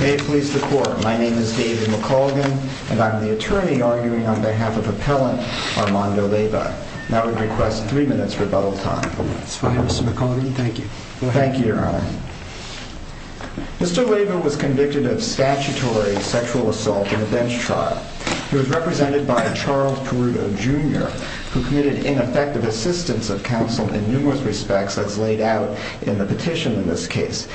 May it please the court, my name is David McColgan and I'm the attorney arguing on behalf of Armando Leyva. Now I would request three minutes rebuttal time. That's fine Mr. McColgan, thank you. Thank you your honor. Mr. Leyva was convicted of statutory sexual assault in a bench trial. He was represented by Charles Peruto Jr. who committed ineffective assistance of counsel in numerous respects as laid out in the petition in this case.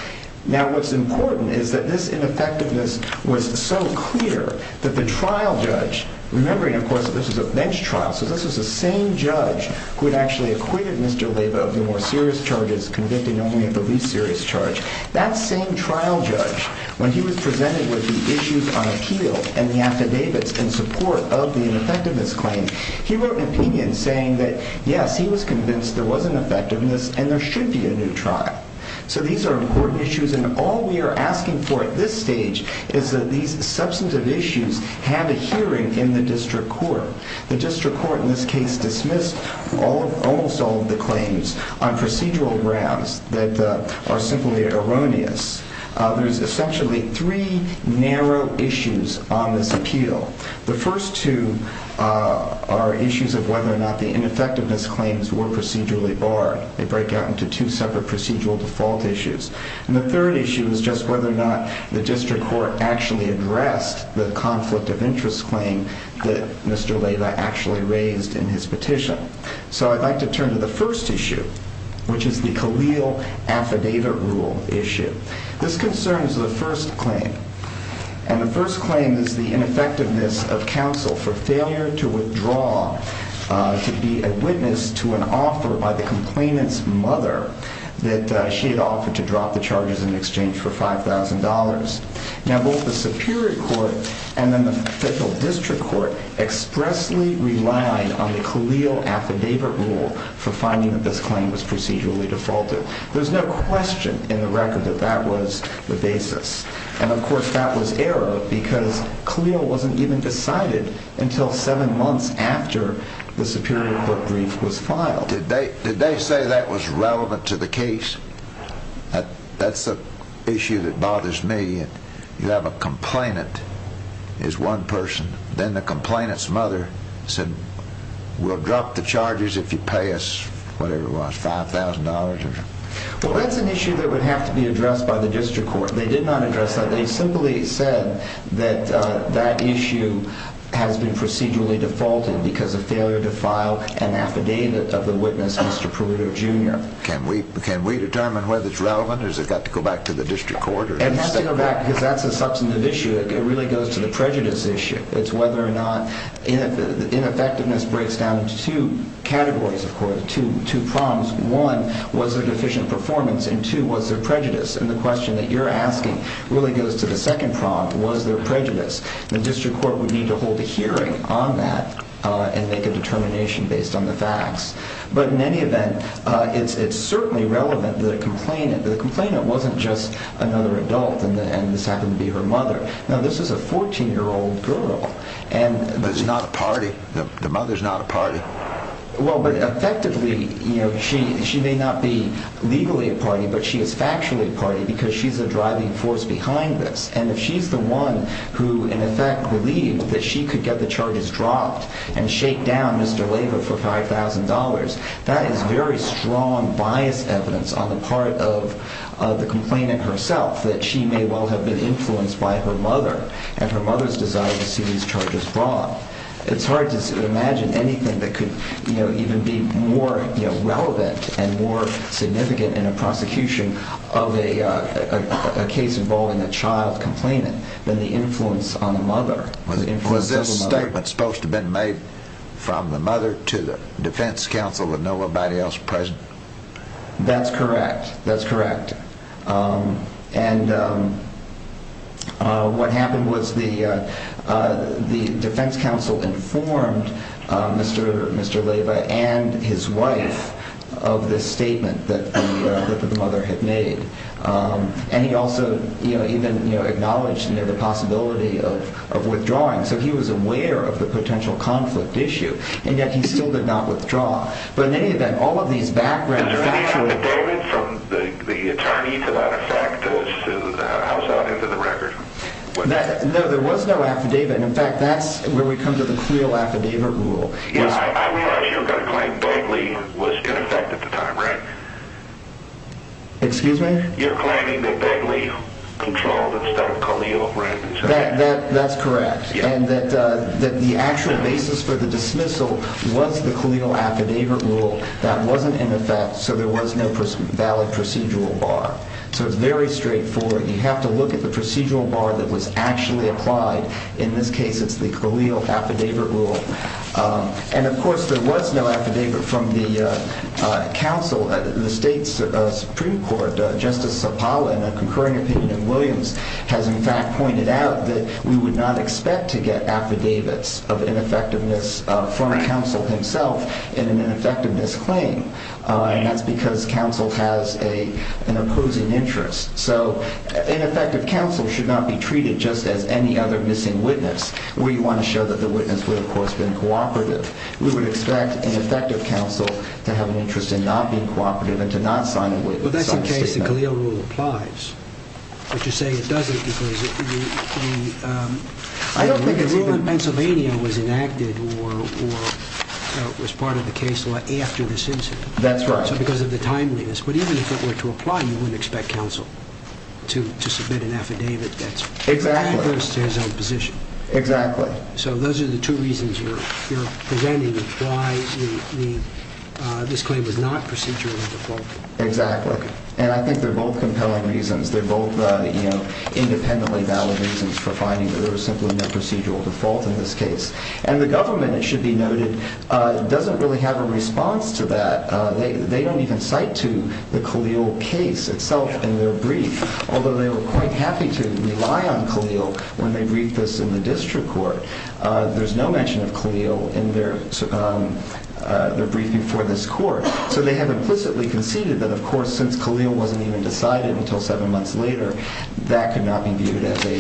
Now what's important is that this ineffectiveness was so clear that the trial judge, remembering of course that this was a bench trial so this was the same judge who had actually acquitted Mr. Leyva of the more serious charges convicted only of the least serious charge. That same trial judge when he was presented with the issues on appeal and the affidavits in support of the ineffectiveness claim, he wrote an opinion saying that yes he was convinced there was an effectiveness and there should be a new trial. So these are important issues and all we are asking for at this stage is that these substantive issues have a hearing in the district court. The district court in this case dismissed almost all of the claims on procedural grounds that are simply erroneous. There's essentially three narrow issues on this appeal. The first two are issues of whether or not the ineffectiveness claims were procedurally barred. They break out into two separate procedural default issues. And the third issue is just whether or not the district court actually addressed the conflict of interest claim that Mr. Leyva actually raised in his petition. So I'd like to turn to the first issue which is the Khalil Affidavit Rule issue. This concerns the first claim and the first claim is the ineffectiveness of counsel for failure to withdraw to be a witness to an offer by the complainant's mother that she had offered to drop the charges in exchange for $5,000. Now both the superior court and then the district court expressly relied on the Khalil Affidavit Rule for finding that this claim was procedurally defaulted. There's no question in the record that that was the basis. And of course that was error because Khalil wasn't even decided until seven months after the superior court brief was filed. Did they say that was relevant to the case? That's the issue that bothers me. You have a complainant is one person. Then the complainant's mother said we'll drop the charges if you pay us whatever it was, $5,000? Well that's an issue that would have to be addressed by the district court. They did not address that. They simply said that that issue has been procedurally defaulted because of failure to file an affidavit of the witness, Mr. Peruto, Jr. Can we determine whether it's relevant or does it have to go back to the district court? It has to go back because that's a substantive issue. It really goes to the prejudice issue. It's whether or not ineffectiveness breaks down into two categories, of course, two problems. One, was there deficient performance? And two, was there prejudice? And the question that you're asking really goes to the second problem, was there prejudice? The district court would need to hold a hearing on that and make a determination based on the facts. But in any event, it's certainly relevant that the complainant wasn't just another adult and this happened to be her mother. Now this is a 14-year-old girl. But it's not a party? The mother's not a party? Well, but effectively, you know, she may not be legally a party, but she is factually a party because she's a driving force behind this. And if she's the one who, in effect, believed that she could get the charges dropped and shake down Mr. Leyva for $5,000, that is very strong bias evidence on the part of the complainant herself that she may well have been influenced by her mother and her mother's desire to see these charges brought. It's hard to imagine anything that could even be more relevant and more significant in a prosecution of a case involving a child complainant than the influence on the mother. Was this statement supposed to have been made from the mother to the defense counsel and nobody else present? That's correct. That's correct. And what happened was the defense counsel informed Mr. Leyva and his wife of this statement that the mother had made. And he also, you know, even acknowledged the possibility of withdrawing. So he was aware of the potential conflict issue, and yet he still did not withdraw. But in any event, all of these backgrounds Was there an affidavit from the attorney, as a matter of fact, to house out into the record? No, there was no affidavit. In fact, that's where we come to the creel affidavit rule. I realize you're going to claim Begley was in effect at the time, right? Excuse me? You're claiming that Begley controlled instead of Khalil, right? That's correct. And that the actual basis for the dismissal was the Khalil affidavit rule. That wasn't in effect. So there was no valid procedural bar. So it's very straightforward. You have to look at the procedural bar that was actually applied. In this case, it's the Khalil affidavit rule. And of course, there was no affidavit from the council, the state's Supreme Court. But Justice Sopala, in a concurring opinion of Williams, has in fact pointed out that we would not expect to get affidavits of ineffectiveness from a counsel himself in an ineffectiveness claim. And that's because counsel has an opposing interest. So an effective counsel should not be treated just as any other missing witness. We want to show that the witness would, of course, have been cooperative. We would expect an effective counsel to have an interest in not being cooperative and to not sign a witness. Well, that's the case. The Khalil rule applies. But you say it doesn't because the rule in Pennsylvania was enacted or was part of the case law after this incident. That's right. So because of the timeliness. But even if it were to apply, you wouldn't expect counsel to submit an affidavit that's adverse to his own position. Exactly. So those are the two reasons you're presenting why this claim was not procedurally defaulted. Exactly. And I think they're both compelling reasons. They're both independently valid reasons for finding that there was simply no procedural default in this case. And the government, it should be noted, doesn't really have a response to that. They don't even cite to the Khalil case itself in their brief. Although they were quite happy to rely on Khalil when they briefed us in the district court. There's no mention of Khalil in their brief before this court. So they have implicitly conceded that, of course, since Khalil wasn't even decided until seven months later, that could not be viewed as a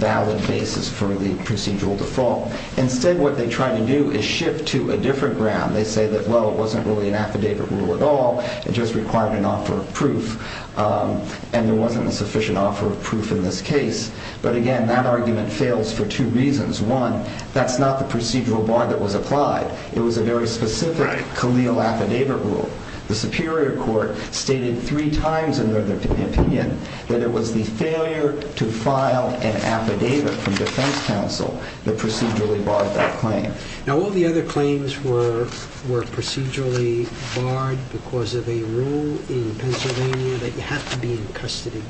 valid basis for the procedural default. Instead, what they try to do is shift to a different ground. They say that, well, it wasn't really an affidavit rule at all. It just required an offer of proof. And there wasn't a sufficient offer of proof in this case. But again, that argument fails for two reasons. One, that's not the procedural bar that was applied. It was a very specific Khalil affidavit rule. The Superior Court stated three times in their opinion that it was the failure to file an affidavit from defense counsel that procedurally barred that claim. Now, all the other claims were procedurally barred because of a rule in Pennsylvania that you have to be in custody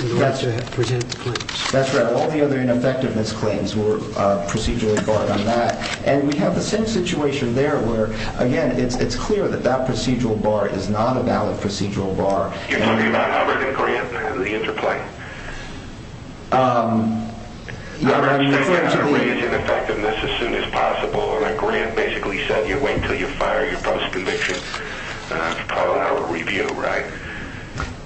in order to present the claims. That's right. All the other ineffectiveness claims were procedurally barred on that. And we have the same situation there where, again, it's clear that that procedural bar is not a valid procedural bar. You're talking about Hubbard and Corrient and the interplay? I mean, you have to raise ineffectiveness as soon as possible. And a grant basically said you wait until you fire your postconviction. That's probably not a review, right?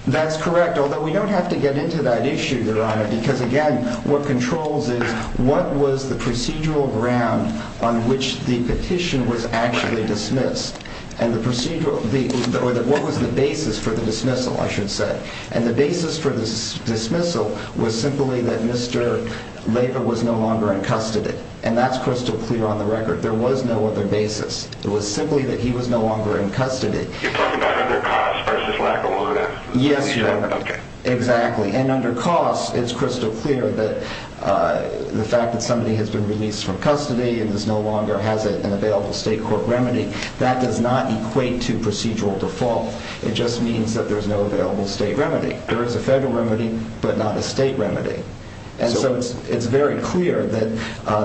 That's correct, although we don't have to get into that issue, Your Honor, because, again, what controls is what was the procedural ground on which the petition was actually dismissed? And the procedural or what was the basis for the dismissal, I should say. And the basis for the dismissal was simply that Mr. Laver was no longer in custody. And that's crystal clear on the record. There was no other basis. It was simply that he was no longer in custody. You're talking about under costs versus lack of warrant? Yes, Your Honor. Okay. Exactly. And under costs, it's crystal clear that the fact that somebody has been released from custody and no longer has an available state court remedy, that does not equate to procedural default. It just means that there's no available state remedy. There is a federal remedy, but not a state remedy. And so it's very clear that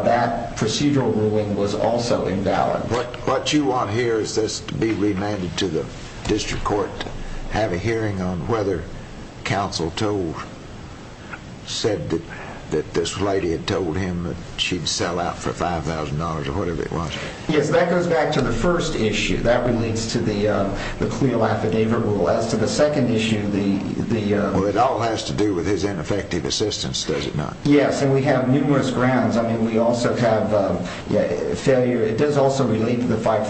that procedural ruling was also invalid. What you want here is this to be remanded to the district court to have a hearing on whether counsel said that this lady had told him that she'd sell out for $5,000 or whatever it was. Yes, that goes back to the first issue. That relates to the cleal affidavit rule. As to the second issue, the… Well, it all has to do with his ineffective assistance, does it not? Yes, and we have numerous grounds. I mean, we also have failure. It does also relate to the $5,000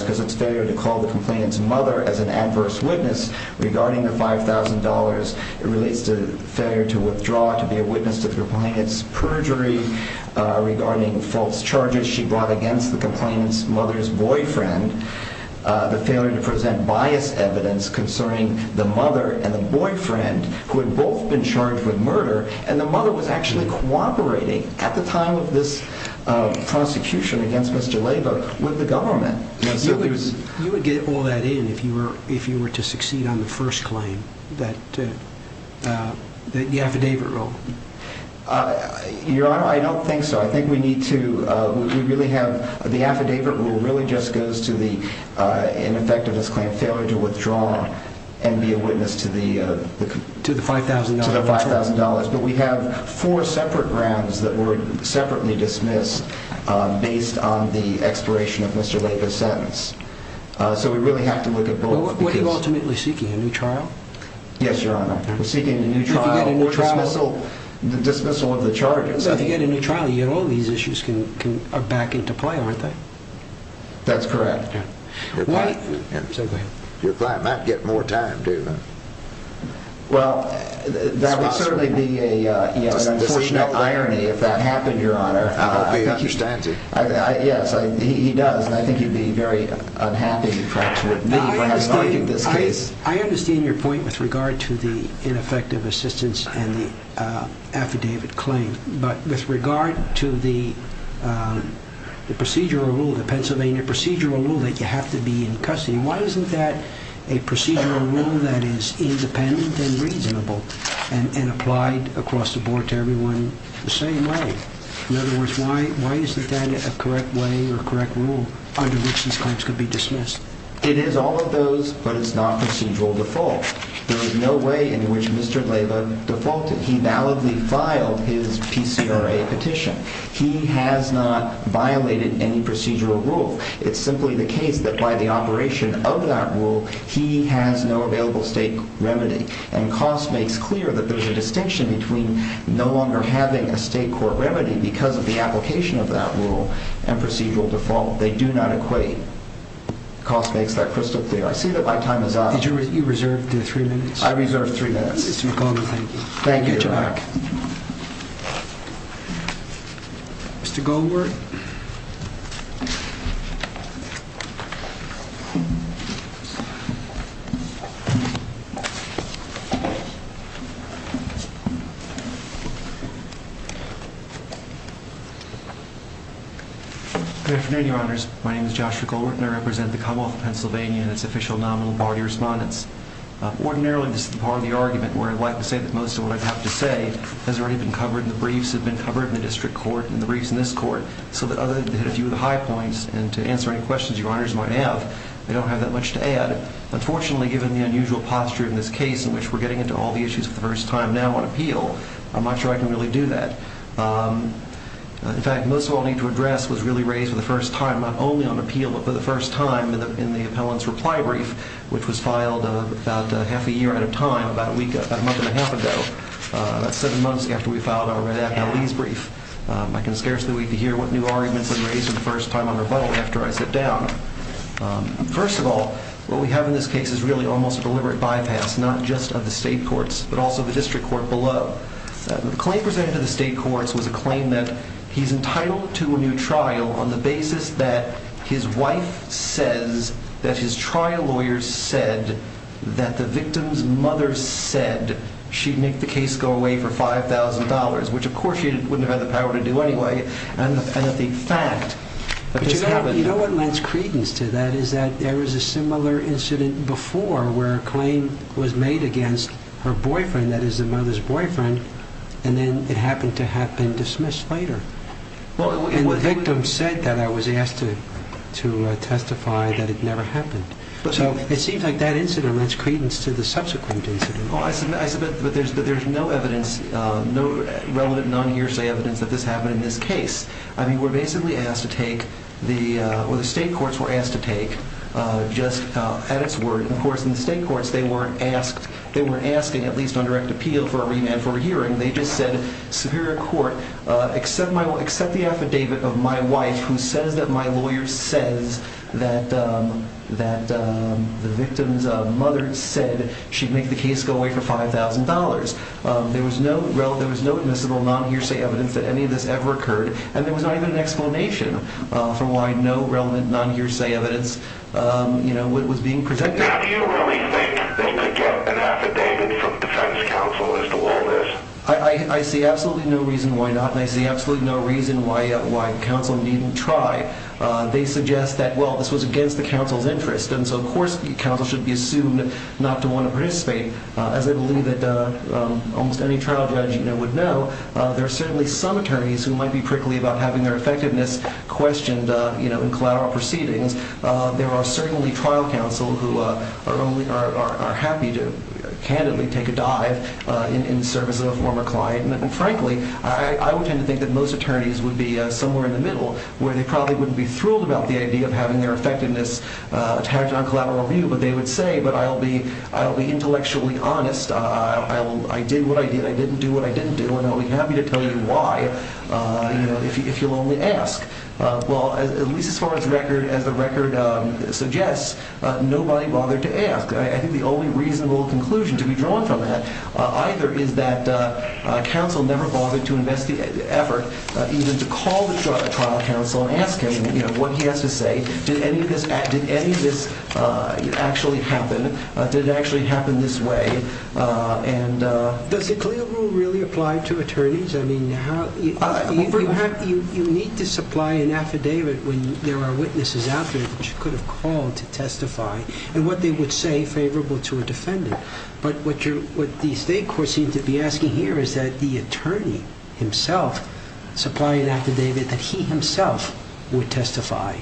because it's failure to call the complainant's mother as an adverse witness regarding the $5,000. It relates to failure to withdraw, to be a witness to the complainant's perjury regarding false charges she brought against the complainant's mother's boyfriend. The failure to present biased evidence concerning the mother and the boyfriend who had both been charged with murder. And the mother was actually cooperating at the time of this prosecution against Mr. Laba with the government. You would get all that in if you were to succeed on the first claim, the affidavit rule. Your Honor, I don't think so. I think we really have… The affidavit rule really just goes to the ineffectiveness claim, failure to withdraw and be a witness to the $5,000. But we have four separate grounds that were separately dismissed based on the expiration of Mr. Laba's sentence. So we really have to look at both. Were you ultimately seeking a new trial? Yes, Your Honor. Seeking a new trial or dismissal of the charges? If you get a new trial, all these issues are back into play, aren't they? That's correct. Your client might get more time, David. Well, that would certainly be an unfortunate irony if that happened, Your Honor. I hope he understands it. Yes, he does, and I think he'd be very unhappy if that were to happen. I understand your point with regard to the ineffective assistance and the affidavit claim. But with regard to the procedural rule, the Pennsylvania procedural rule that you have to be in custody, why isn't that a procedural rule that is independent and reasonable and applied across the board to everyone the same way? In other words, why isn't that a correct way or a correct rule under which these claims could be dismissed? It is all of those, but it's not procedural default. There is no way in which Mr. Leyva defaulted. He validly filed his PCRA petition. He has not violated any procedural rule. It's simply the case that by the operation of that rule, he has no available state remedy. And Cost makes clear that there's a distinction between no longer having a state court remedy because of the application of that rule and procedural default. They do not equate. Cost makes that crystal clear. I see that my time is up. Did you reserve three minutes? I reserved three minutes. Mr. Goldberg, thank you. Thank you, Jack. Mr. Goldberg. Good afternoon, Your Honors. My name is Joshua Goldberg, and I represent the Commonwealth of Pennsylvania and its official nominal party respondents. Ordinarily, this is the part of the argument where I'd like to say that most of what I have to say has already been covered and the briefs have been covered in the district court and the briefs in this court, so that other than to hit a few of the high points and to answer any questions Your Honors might have, I don't have that much to add. Unfortunately, given the unusual posture in this case in which we're getting into all the issues for the first time now on appeal, I'm not sure I can really do that. In fact, most of what I need to address was really raised for the first time not only on appeal but for the first time in the appellant's reply brief, which was filed about half a year at a time, about a month and a half ago, about seven months after we filed our red act appellee's brief. I can scarcely wait to hear what new arguments are raised for the first time on rebuttal after I sit down. First of all, what we have in this case is really almost a deliberate bypass, not just of the state courts but also the district court below. The claim presented to the state courts was a claim that he's entitled to a new trial on the basis that his wife says that his trial lawyers said that the victim's mother said that she'd make the case go away for $5,000, which of course she wouldn't have had the power to do anyway, and that the fact that this happened... But you know what lends credence to that is that there was a similar incident before where a claim was made against her boyfriend, that is the mother's boyfriend, and then it happened to have been dismissed later. And the victim said that I was asked to testify that it never happened. So it seems like that incident lends credence to the subsequent incident. I submit that there's no evidence, no relevant non-hearsay evidence that this happened in this case. I mean, we're basically asked to take, or the state courts were asked to take, just at its word. Of course, in the state courts they weren't asking, at least on direct appeal for a remand for a hearing, they just said, Superior Court, accept the affidavit of my wife who says that my lawyer says that the victim's mother said she'd make the case go away for $5,000. There was no admissible non-hearsay evidence that any of this ever occurred, and there was not even an explanation for why no relevant non-hearsay evidence was being presented. Do you really think they could get an affidavit from defense counsel as to all this? I see absolutely no reason why not, and I see absolutely no reason why counsel needn't try. They suggest that, well, this was against the counsel's interest, and so of course counsel should be assumed not to want to participate. As I believe that almost any trial judge would know, there are certainly some attorneys who might be prickly about having their effectiveness questioned in collateral proceedings. There are certainly trial counsel who are happy to candidly take a dive in the service of a former client, and frankly, I would tend to think that most attorneys would be somewhere in the middle where they probably wouldn't be thrilled about the idea of having their effectiveness attached on collateral review, but they would say, but I'll be intellectually honest. I did what I did. I didn't do what I didn't do, and I'll be happy to tell you why if you'll only ask. Well, at least as far as the record suggests, nobody bothered to ask. I think the only reasonable conclusion to be drawn from that either is that nobody ever bothered to investigate, ever, even to call the trial counsel and ask him what he has to say. Did any of this actually happen? Did it actually happen this way? Does the CLIA rule really apply to attorneys? You need to supply an affidavit when there are witnesses out there that you could have called to testify But what the state court seems to be asking here is that the attorney himself supply an affidavit that he himself would testify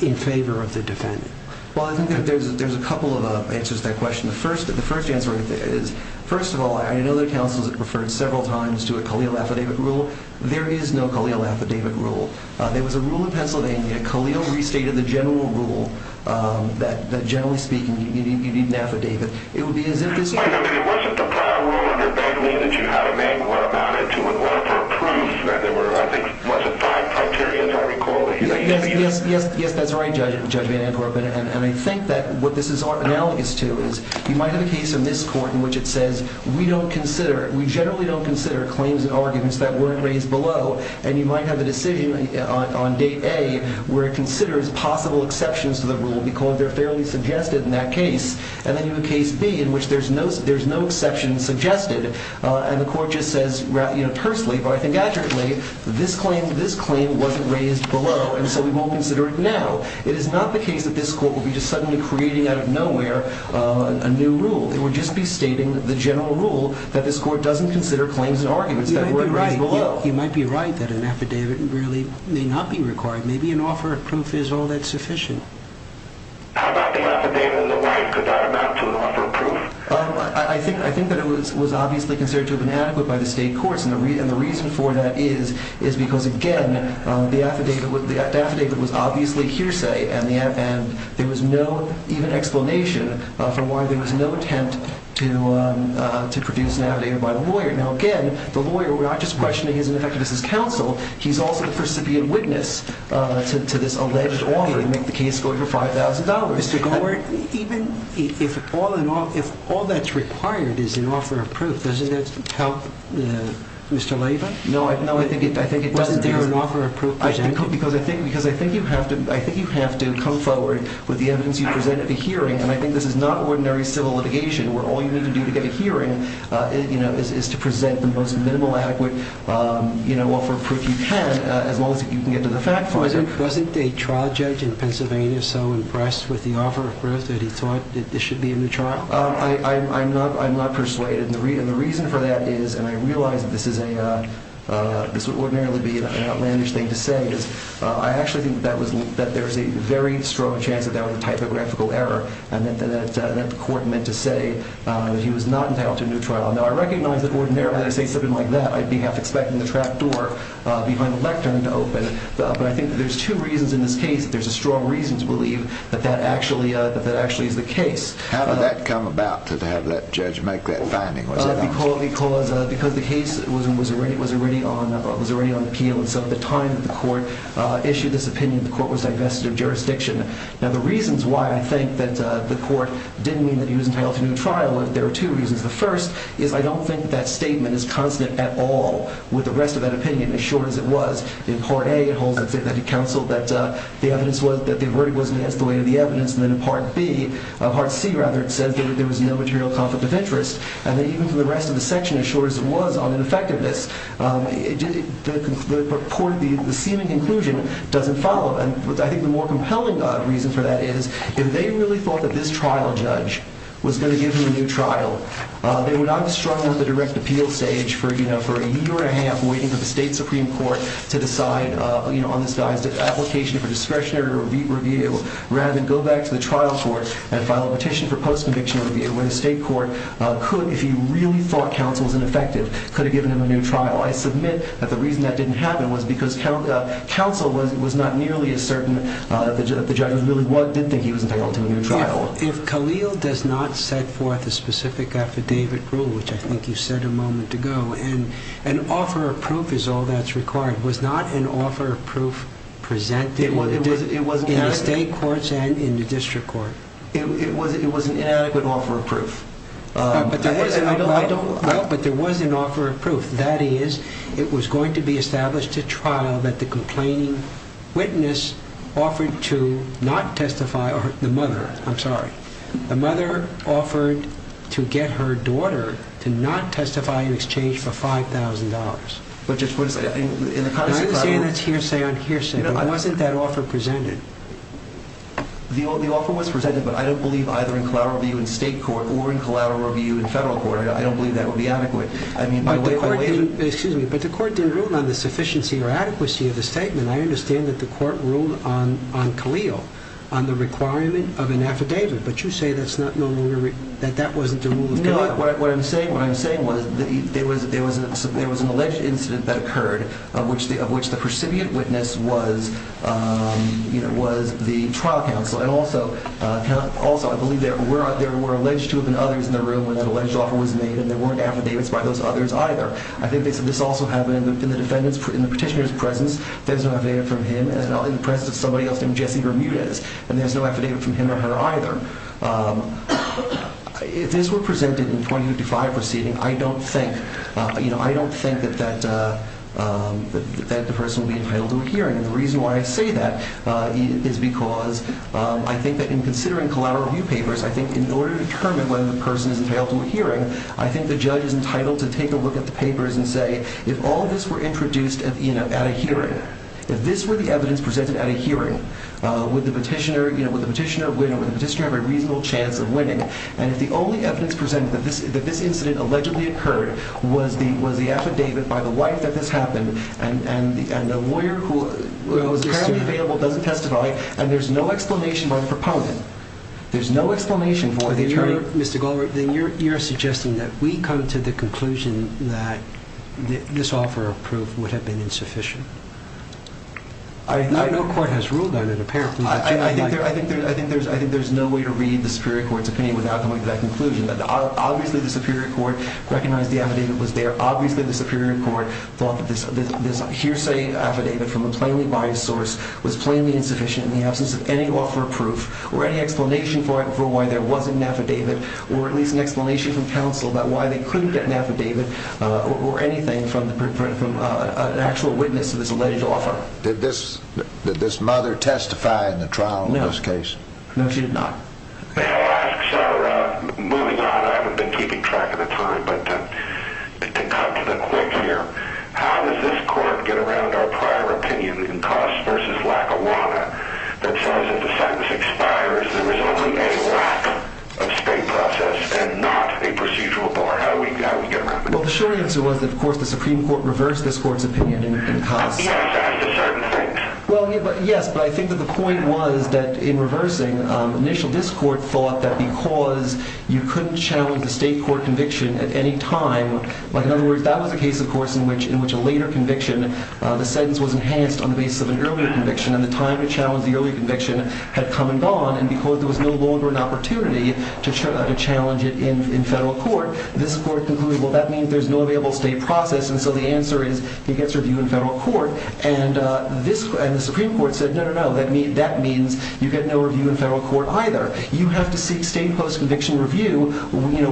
in favor of the defendant. Well, I think there's a couple of answers to that question. The first answer is, first of all, I know there are counsels that have referred several times to a CALEEL affidavit rule. There is no CALEEL affidavit rule. There was a rule in Pennsylvania, CALEEL restated the general rule, that generally speaking, you need an affidavit. It would be as if this... I mean, it wasn't the prior rule under Bengley that you had a man who went about it to a lawyer for proof. There were, I think, was it five criteria, as I recall? Yes, yes, yes, that's right, Judge Van Amkor. And I think that what this is analogous to is, you might have a case in this court in which it says, we don't consider, we generally don't consider claims and arguments that weren't raised below. And you might have a decision on date A where it considers possible exceptions to the rule, because they're fairly suggested in that case. And then you have case B in which there's no exception suggested, and the court just says, you know, personally, but I think adjectly, this claim wasn't raised below, and so we won't consider it now. It is not the case that this court will be just suddenly creating out of nowhere a new rule. It would just be stating the general rule that this court doesn't consider claims and arguments that weren't raised below. You might be right that an affidavit really may not be required. Maybe an offer of proof is all that sufficient. How about the affidavit of the wife? Could that amount to an offer of proof? I think that it was obviously considered to have been adequate by the state courts, and the reason for that is because, again, the affidavit was obviously hearsay, and there was no even explanation for why there was no attempt to produce an affidavit by the lawyer. Now, again, the lawyer, we're not just questioning his ineffectiveness as counsel. He's also the percipient witness to this alleged offer to make the case go for $5,000. Mr. Gore, even if all that's required is an offer of proof, doesn't that help Mr. Leyva? No, I think it doesn't. Well, isn't there an offer of proof? Because I think you have to come forward with the evidence you present at the hearing, and I think this is not ordinary civil litigation where all you need to do to get a hearing is to present the most minimal adequate offer of proof you can, as long as you can get to the fact finder. Wasn't a trial judge in Pennsylvania so impressed with the offer of proof that he thought this should be a new trial? I'm not persuaded, and the reason for that is, and I realize that this would ordinarily be an outlandish thing to say, is I actually think that there's a very strong chance that that was a typographical error and that the court meant to say that he was not entitled to a new trial. Now, I recognize that ordinarily I say something like that, I'd be half expecting the trap door behind the lectern to open, but I think there's two reasons in this case that there's a strong reason to believe that that actually is the case. How did that come about, to have that judge make that finding? Because the case was already on appeal, and so at the time that the court issued this opinion, the court was divested of jurisdiction. Now, the reasons why I think that the court didn't mean that he was entitled to a new trial, there are two reasons. The first is I don't think that statement is constant at all with the rest of that opinion, as short as it was. In Part A, it holds that he counseled that the verdict wasn't against the weight of the evidence, and then in Part C, it says that there was no material conflict of interest, and then even for the rest of the section, as short as it was on ineffectiveness, the seeming conclusion doesn't follow. I think the more compelling reason for that is if they really thought that this trial judge was going to give him a new trial, they would either struggle at the direct appeal stage for a year and a half, waiting for the state supreme court to decide on this guy's application for discretionary review, rather than go back to the trial court and file a petition for post-conviction review, where the state court could, if he really thought counsel was ineffective, could have given him a new trial. I submit that the reason that didn't happen was because counsel was not nearly as certain that the judge really did think he was entitled to a new trial. If Khalil does not set forth a specific affidavit rule, which I think you said a moment ago, and an offer of proof is all that's required, was not an offer of proof presented in the state courts and in the district court? No, but there was an offer of proof. That is, it was going to be established at trial that the complaining witness offered to not testify, or the mother, I'm sorry, the mother offered to get her daughter to not testify in exchange for $5,000. But just what is, in the context of... I'm not saying it's hearsay on hearsay, but wasn't that offer presented? The offer was presented, but I don't believe either in collateral review in state court or in collateral review in federal court. I don't believe that would be adequate. Excuse me, but the court didn't rule on the sufficiency or adequacy of the statement. I understand that the court ruled on Khalil on the requirement of an affidavit, but you say that that wasn't the rule of conduct. What I'm saying was there was an alleged incident that occurred of which the percipient witness was the trial counsel, and also I believe there were alleged to have been others in the room when the alleged offer was made, and there weren't affidavits by those others either. I think this also happened in the petitioner's presence. There's no affidavit from him, and in the presence of somebody else named Jesse Bermudez, and there's no affidavit from him or her either. If this were presented in the 2055 proceeding, I don't think that the person would be entitled to a hearing, and the reason why I say that is because I think that in considering collateral review papers, I think in order to determine whether the person is entitled to a hearing, I think the judge is entitled to take a look at the papers and say, if all of this were introduced at a hearing, if this were the evidence presented at a hearing, would the petitioner have a reasonable chance of winning, and if the only evidence presented that this incident allegedly occurred was the affidavit by the wife that this happened, and the lawyer who was currently available doesn't testify, and there's no explanation by the proponent, there's no explanation for the attorney. Then you're suggesting that we come to the conclusion that this offer of proof would have been insufficient. No court has ruled on it, apparently. I think there's no way to read the Superior Court's opinion without coming to that conclusion. Obviously, the Superior Court recognized the affidavit was there. Obviously, the Superior Court thought that this hearsay affidavit from a plainly biased source was plainly insufficient in the absence of any offer of proof or any explanation for why there wasn't an affidavit or at least an explanation from counsel about why they couldn't get an affidavit or anything from an actual witness of this alleged offer. Did this mother testify in the trial in this case? No. No, she did not. Moving on, I haven't been keeping track of the time, but to cut to the quick here, how does this court get around our prior opinion in Cross v. Lackawanna that says if the sentence expires there is only a lack of state process and not a procedural bar? Well, the short answer was that, of course, the Supreme Court reversed this court's opinion in Cross. Yes, at a certain point. Well, yes, but I think that the point was that in reversing, initial this court thought that because you couldn't challenge the state court conviction at any time, in other words, that was a case, of course, in which a later conviction, the sentence was enhanced on the basis of an earlier conviction and the time to challenge the earlier conviction had come and gone and because there was no longer an opportunity to challenge it in federal court, this court concluded, well, that means there's no available state process and so the answer is it gets reviewed in federal court and the Supreme Court said, no, no, no, that means you get no review in federal court either. You have to seek state post-conviction review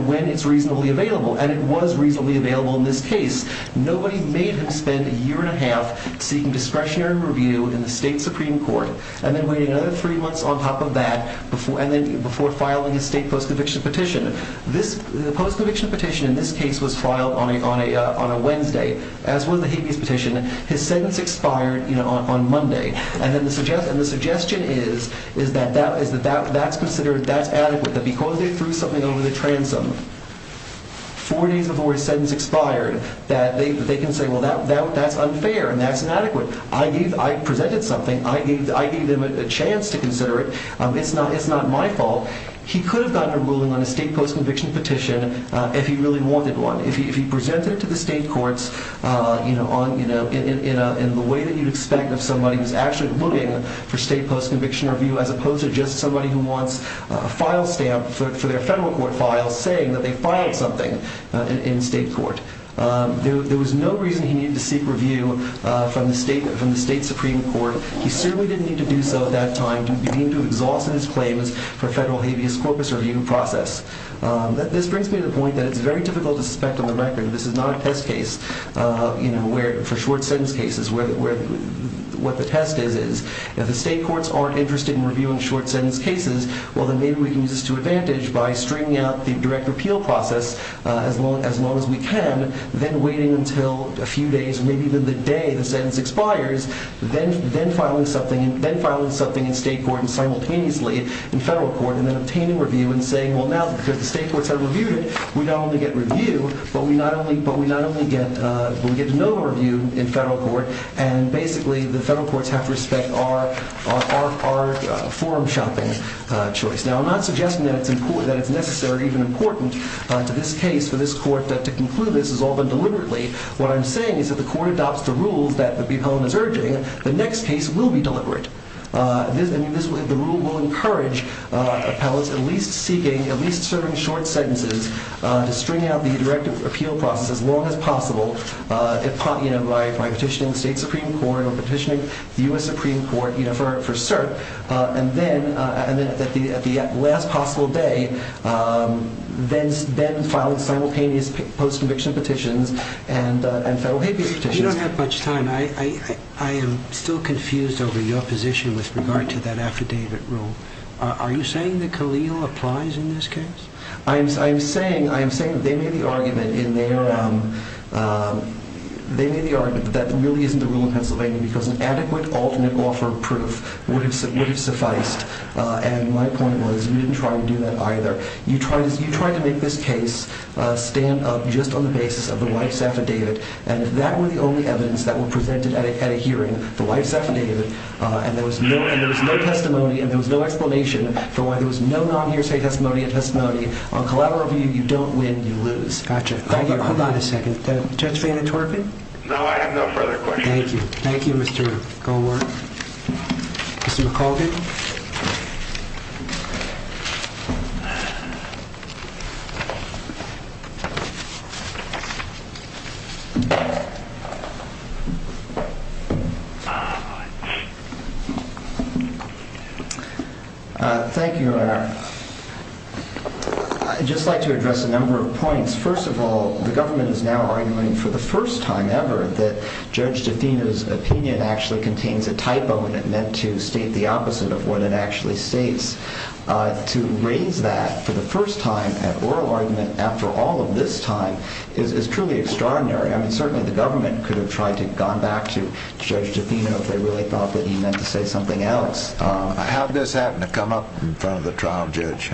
when it's reasonably available and it was reasonably available in this case. Nobody made him spend a year and a half seeking discretionary review in the state Supreme Court and then waiting another three months on top of that before filing a state post-conviction petition. The post-conviction petition in this case was filed on a Wednesday, as was the habeas petition. His sentence expired on Monday and the suggestion is that that's adequate, that because they threw something over the transom four days before his sentence expired, that they can say, well, that's unfair and that's inadequate. I presented something. I gave them a chance to consider it. It's not my fault. He could have gotten a ruling on a state post-conviction petition if he really wanted one, if he presented it to the state courts in the way that you'd expect of somebody who's actually looking for state post-conviction review as opposed to just somebody who wants a file stamp for their federal court file saying that they filed something in state court. There was no reason he needed to seek review from the state Supreme Court. He certainly didn't need to do so at that time to begin to exhaust his claims for a federal habeas corpus review process. This brings me to the point that it's very difficult to suspect on the record that this is not a test case for short sentence cases, what the test is. If the state courts aren't interested in reviewing short sentence cases, well, then maybe we can use this to advantage by stringing out the direct repeal process as long as we can, then waiting until a few days, maybe even the day the sentence expires, then filing something in state court and simultaneously in federal court and then obtaining review and saying, well, now that the state courts have reviewed it, we not only get review, but we get to know review in federal court and basically the federal courts have to respect our forum shopping choice. Now, I'm not suggesting that it's necessary or even important to this case for this court to conclude this as all but deliberately. What I'm saying is if the court adopts the rules that the appellant is urging, the next case will be deliberate. The rule will encourage appellants at least seeking, at least serving short sentences to string out the direct appeal process as long as possible, by petitioning the state Supreme Court or petitioning the U.S. Supreme Court for cert and then at the last possible day then filing simultaneous post-conviction petitions and federal habeas petitions. You don't have much time. I am still confused over your position with regard to that affidavit rule. Are you saying that Khalil applies in this case? I am saying that they made the argument that really isn't the rule in Pennsylvania because an adequate alternate offer of proof would have sufficed, and my point was we didn't try to do that either. You tried to make this case stand up just on the basis of the wife's affidavit, and if that were the only evidence that were presented at a hearing, the wife's affidavit, and there was no testimony and there was no explanation for why there was no non-hearsay testimony and testimony, on collateral review, you don't win, you lose. Gotcha. Thank you. Hold on a second. Judge Van Der Torpen? No, I have no further questions. Thank you. Thank you, Mr. Goldwater. Mr. McAuldin? Thank you, Your Honor. I'd just like to address a number of points. First of all, the government is now arguing for the first time ever that Judge DeFino's opinion actually contains a typo and it meant to state the opposite of what it actually states. To raise that for the first time at oral argument after all of this time is truly extraordinary. I mean, certainly the government could have tried to have gone back to Judge DeFino if they really thought that he meant to say something else. How did this happen to come up in front of the trial judge?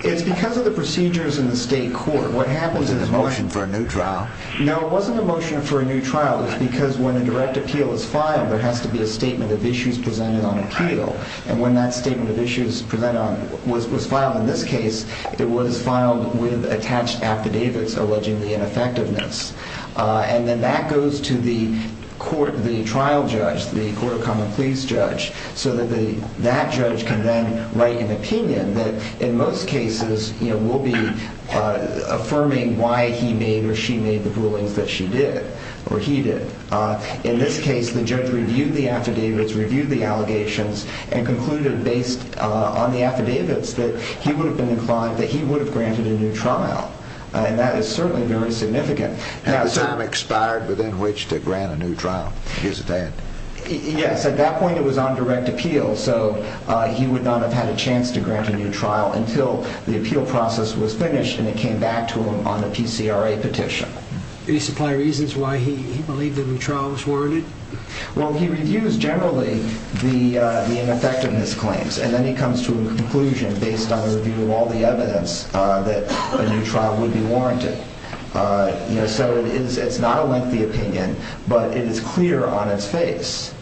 It's because of the procedures in the state court. What happens is... Was it a motion for a new trial? No, it wasn't a motion for a new trial. It was because when a direct appeal is filed, there has to be a statement of issues presented on appeal, and when that statement of issues was filed in this case, it was filed with attached affidavits alleging the ineffectiveness. And then that goes to the trial judge, the court of common pleas judge, so that that judge can then write an opinion that in most cases will be affirming why he made or she made the rulings that she did or he did. In this case, the judge reviewed the affidavits, reviewed the allegations, and concluded based on the affidavits that he would have been inclined, that he would have granted a new trial. And that is certainly very significant. Had the time expired within which to grant a new trial? Yes, at that point it was on direct appeal, so he would not have had a chance to grant a new trial until the appeal process was finished and it came back to him on a PCRA petition. Do you supply reasons why he believed the new trial was warranted? Well, he reviews generally the ineffectiveness claims, and then he comes to a conclusion based on the review of all the evidence that a new trial would be warranted. So it's not a lengthy opinion, but it is clear on its face.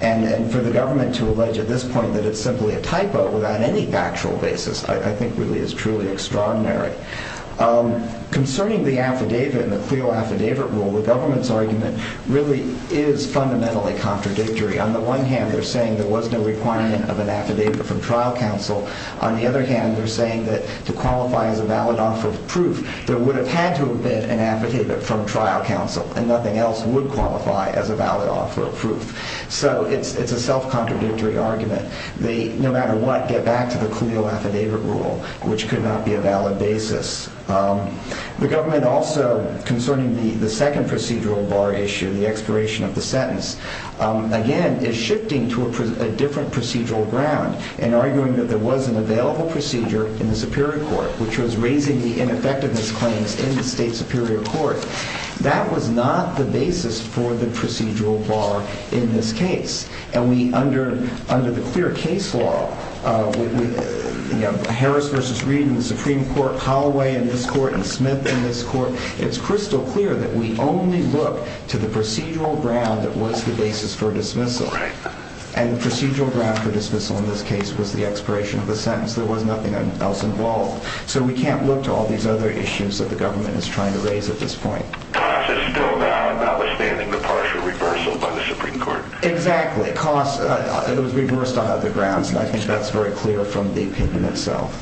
And for the government to allege at this point that it's simply a typo without any factual basis I think really is truly extraordinary. Concerning the affidavit and the CLEO affidavit rule, the government's argument really is fundamentally contradictory. On the one hand, they're saying there was no requirement of an affidavit from trial counsel. On the other hand, they're saying that to qualify as a valid offer of proof, there would have had to have been an affidavit from trial counsel, and nothing else would qualify as a valid offer of proof. So it's a self-contradictory argument. They, no matter what, get back to the CLEO affidavit rule, which could not be a valid basis. The government also, concerning the second procedural bar issue, the expiration of the sentence, again is shifting to a different procedural ground and arguing that there was an available procedure in the Superior Court which was raising the ineffectiveness claims in the state Superior Court. That was not the basis for the procedural bar in this case. And under the clear case law, Harris v. Reed in the Supreme Court, Holloway in this court, and Smith in this court, it's crystal clear that we only look to the procedural ground that was the basis for dismissal. And the procedural ground for dismissal in this case was the expiration of the sentence. There was nothing else involved. So we can't look to all these other issues that the government is trying to raise at this point. Cost is still valid, notwithstanding the partial reversal by the Supreme Court. Exactly. Cost, it was reversed on other grounds. And I think that's very clear from the opinion itself.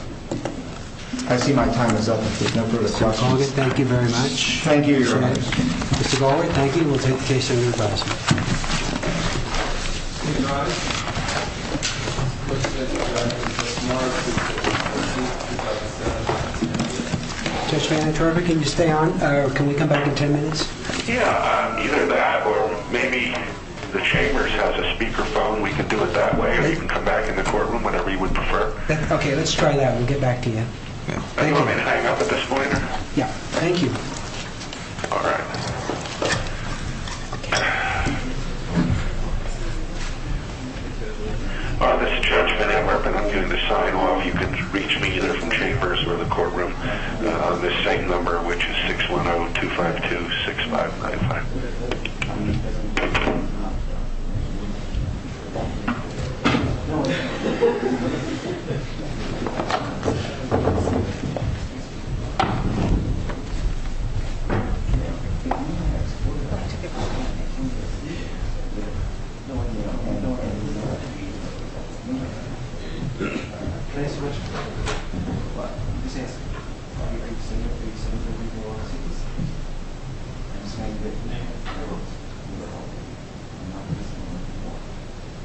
I see my time is up. If there's no further questions. Thank you very much. Thank you, Your Honor. Mr. Galway, thank you. We'll take the case under advisement. Judge Vanderwerff, can you stay on? Can we come back in 10 minutes? Yeah, either that, or maybe the Chambers has a speakerphone. We can do it that way, or you can come back in the courtroom whenever you would prefer. Okay, let's try that. We'll get back to you. Do you want me to hang up at this point? Yeah, thank you. All right. This is Judge Vanderwerff, and I'm going to sign off. You can reach me either from Chambers or the courtroom. The same number, which is 610-252-6595. Thank you. Thank you. Thank you.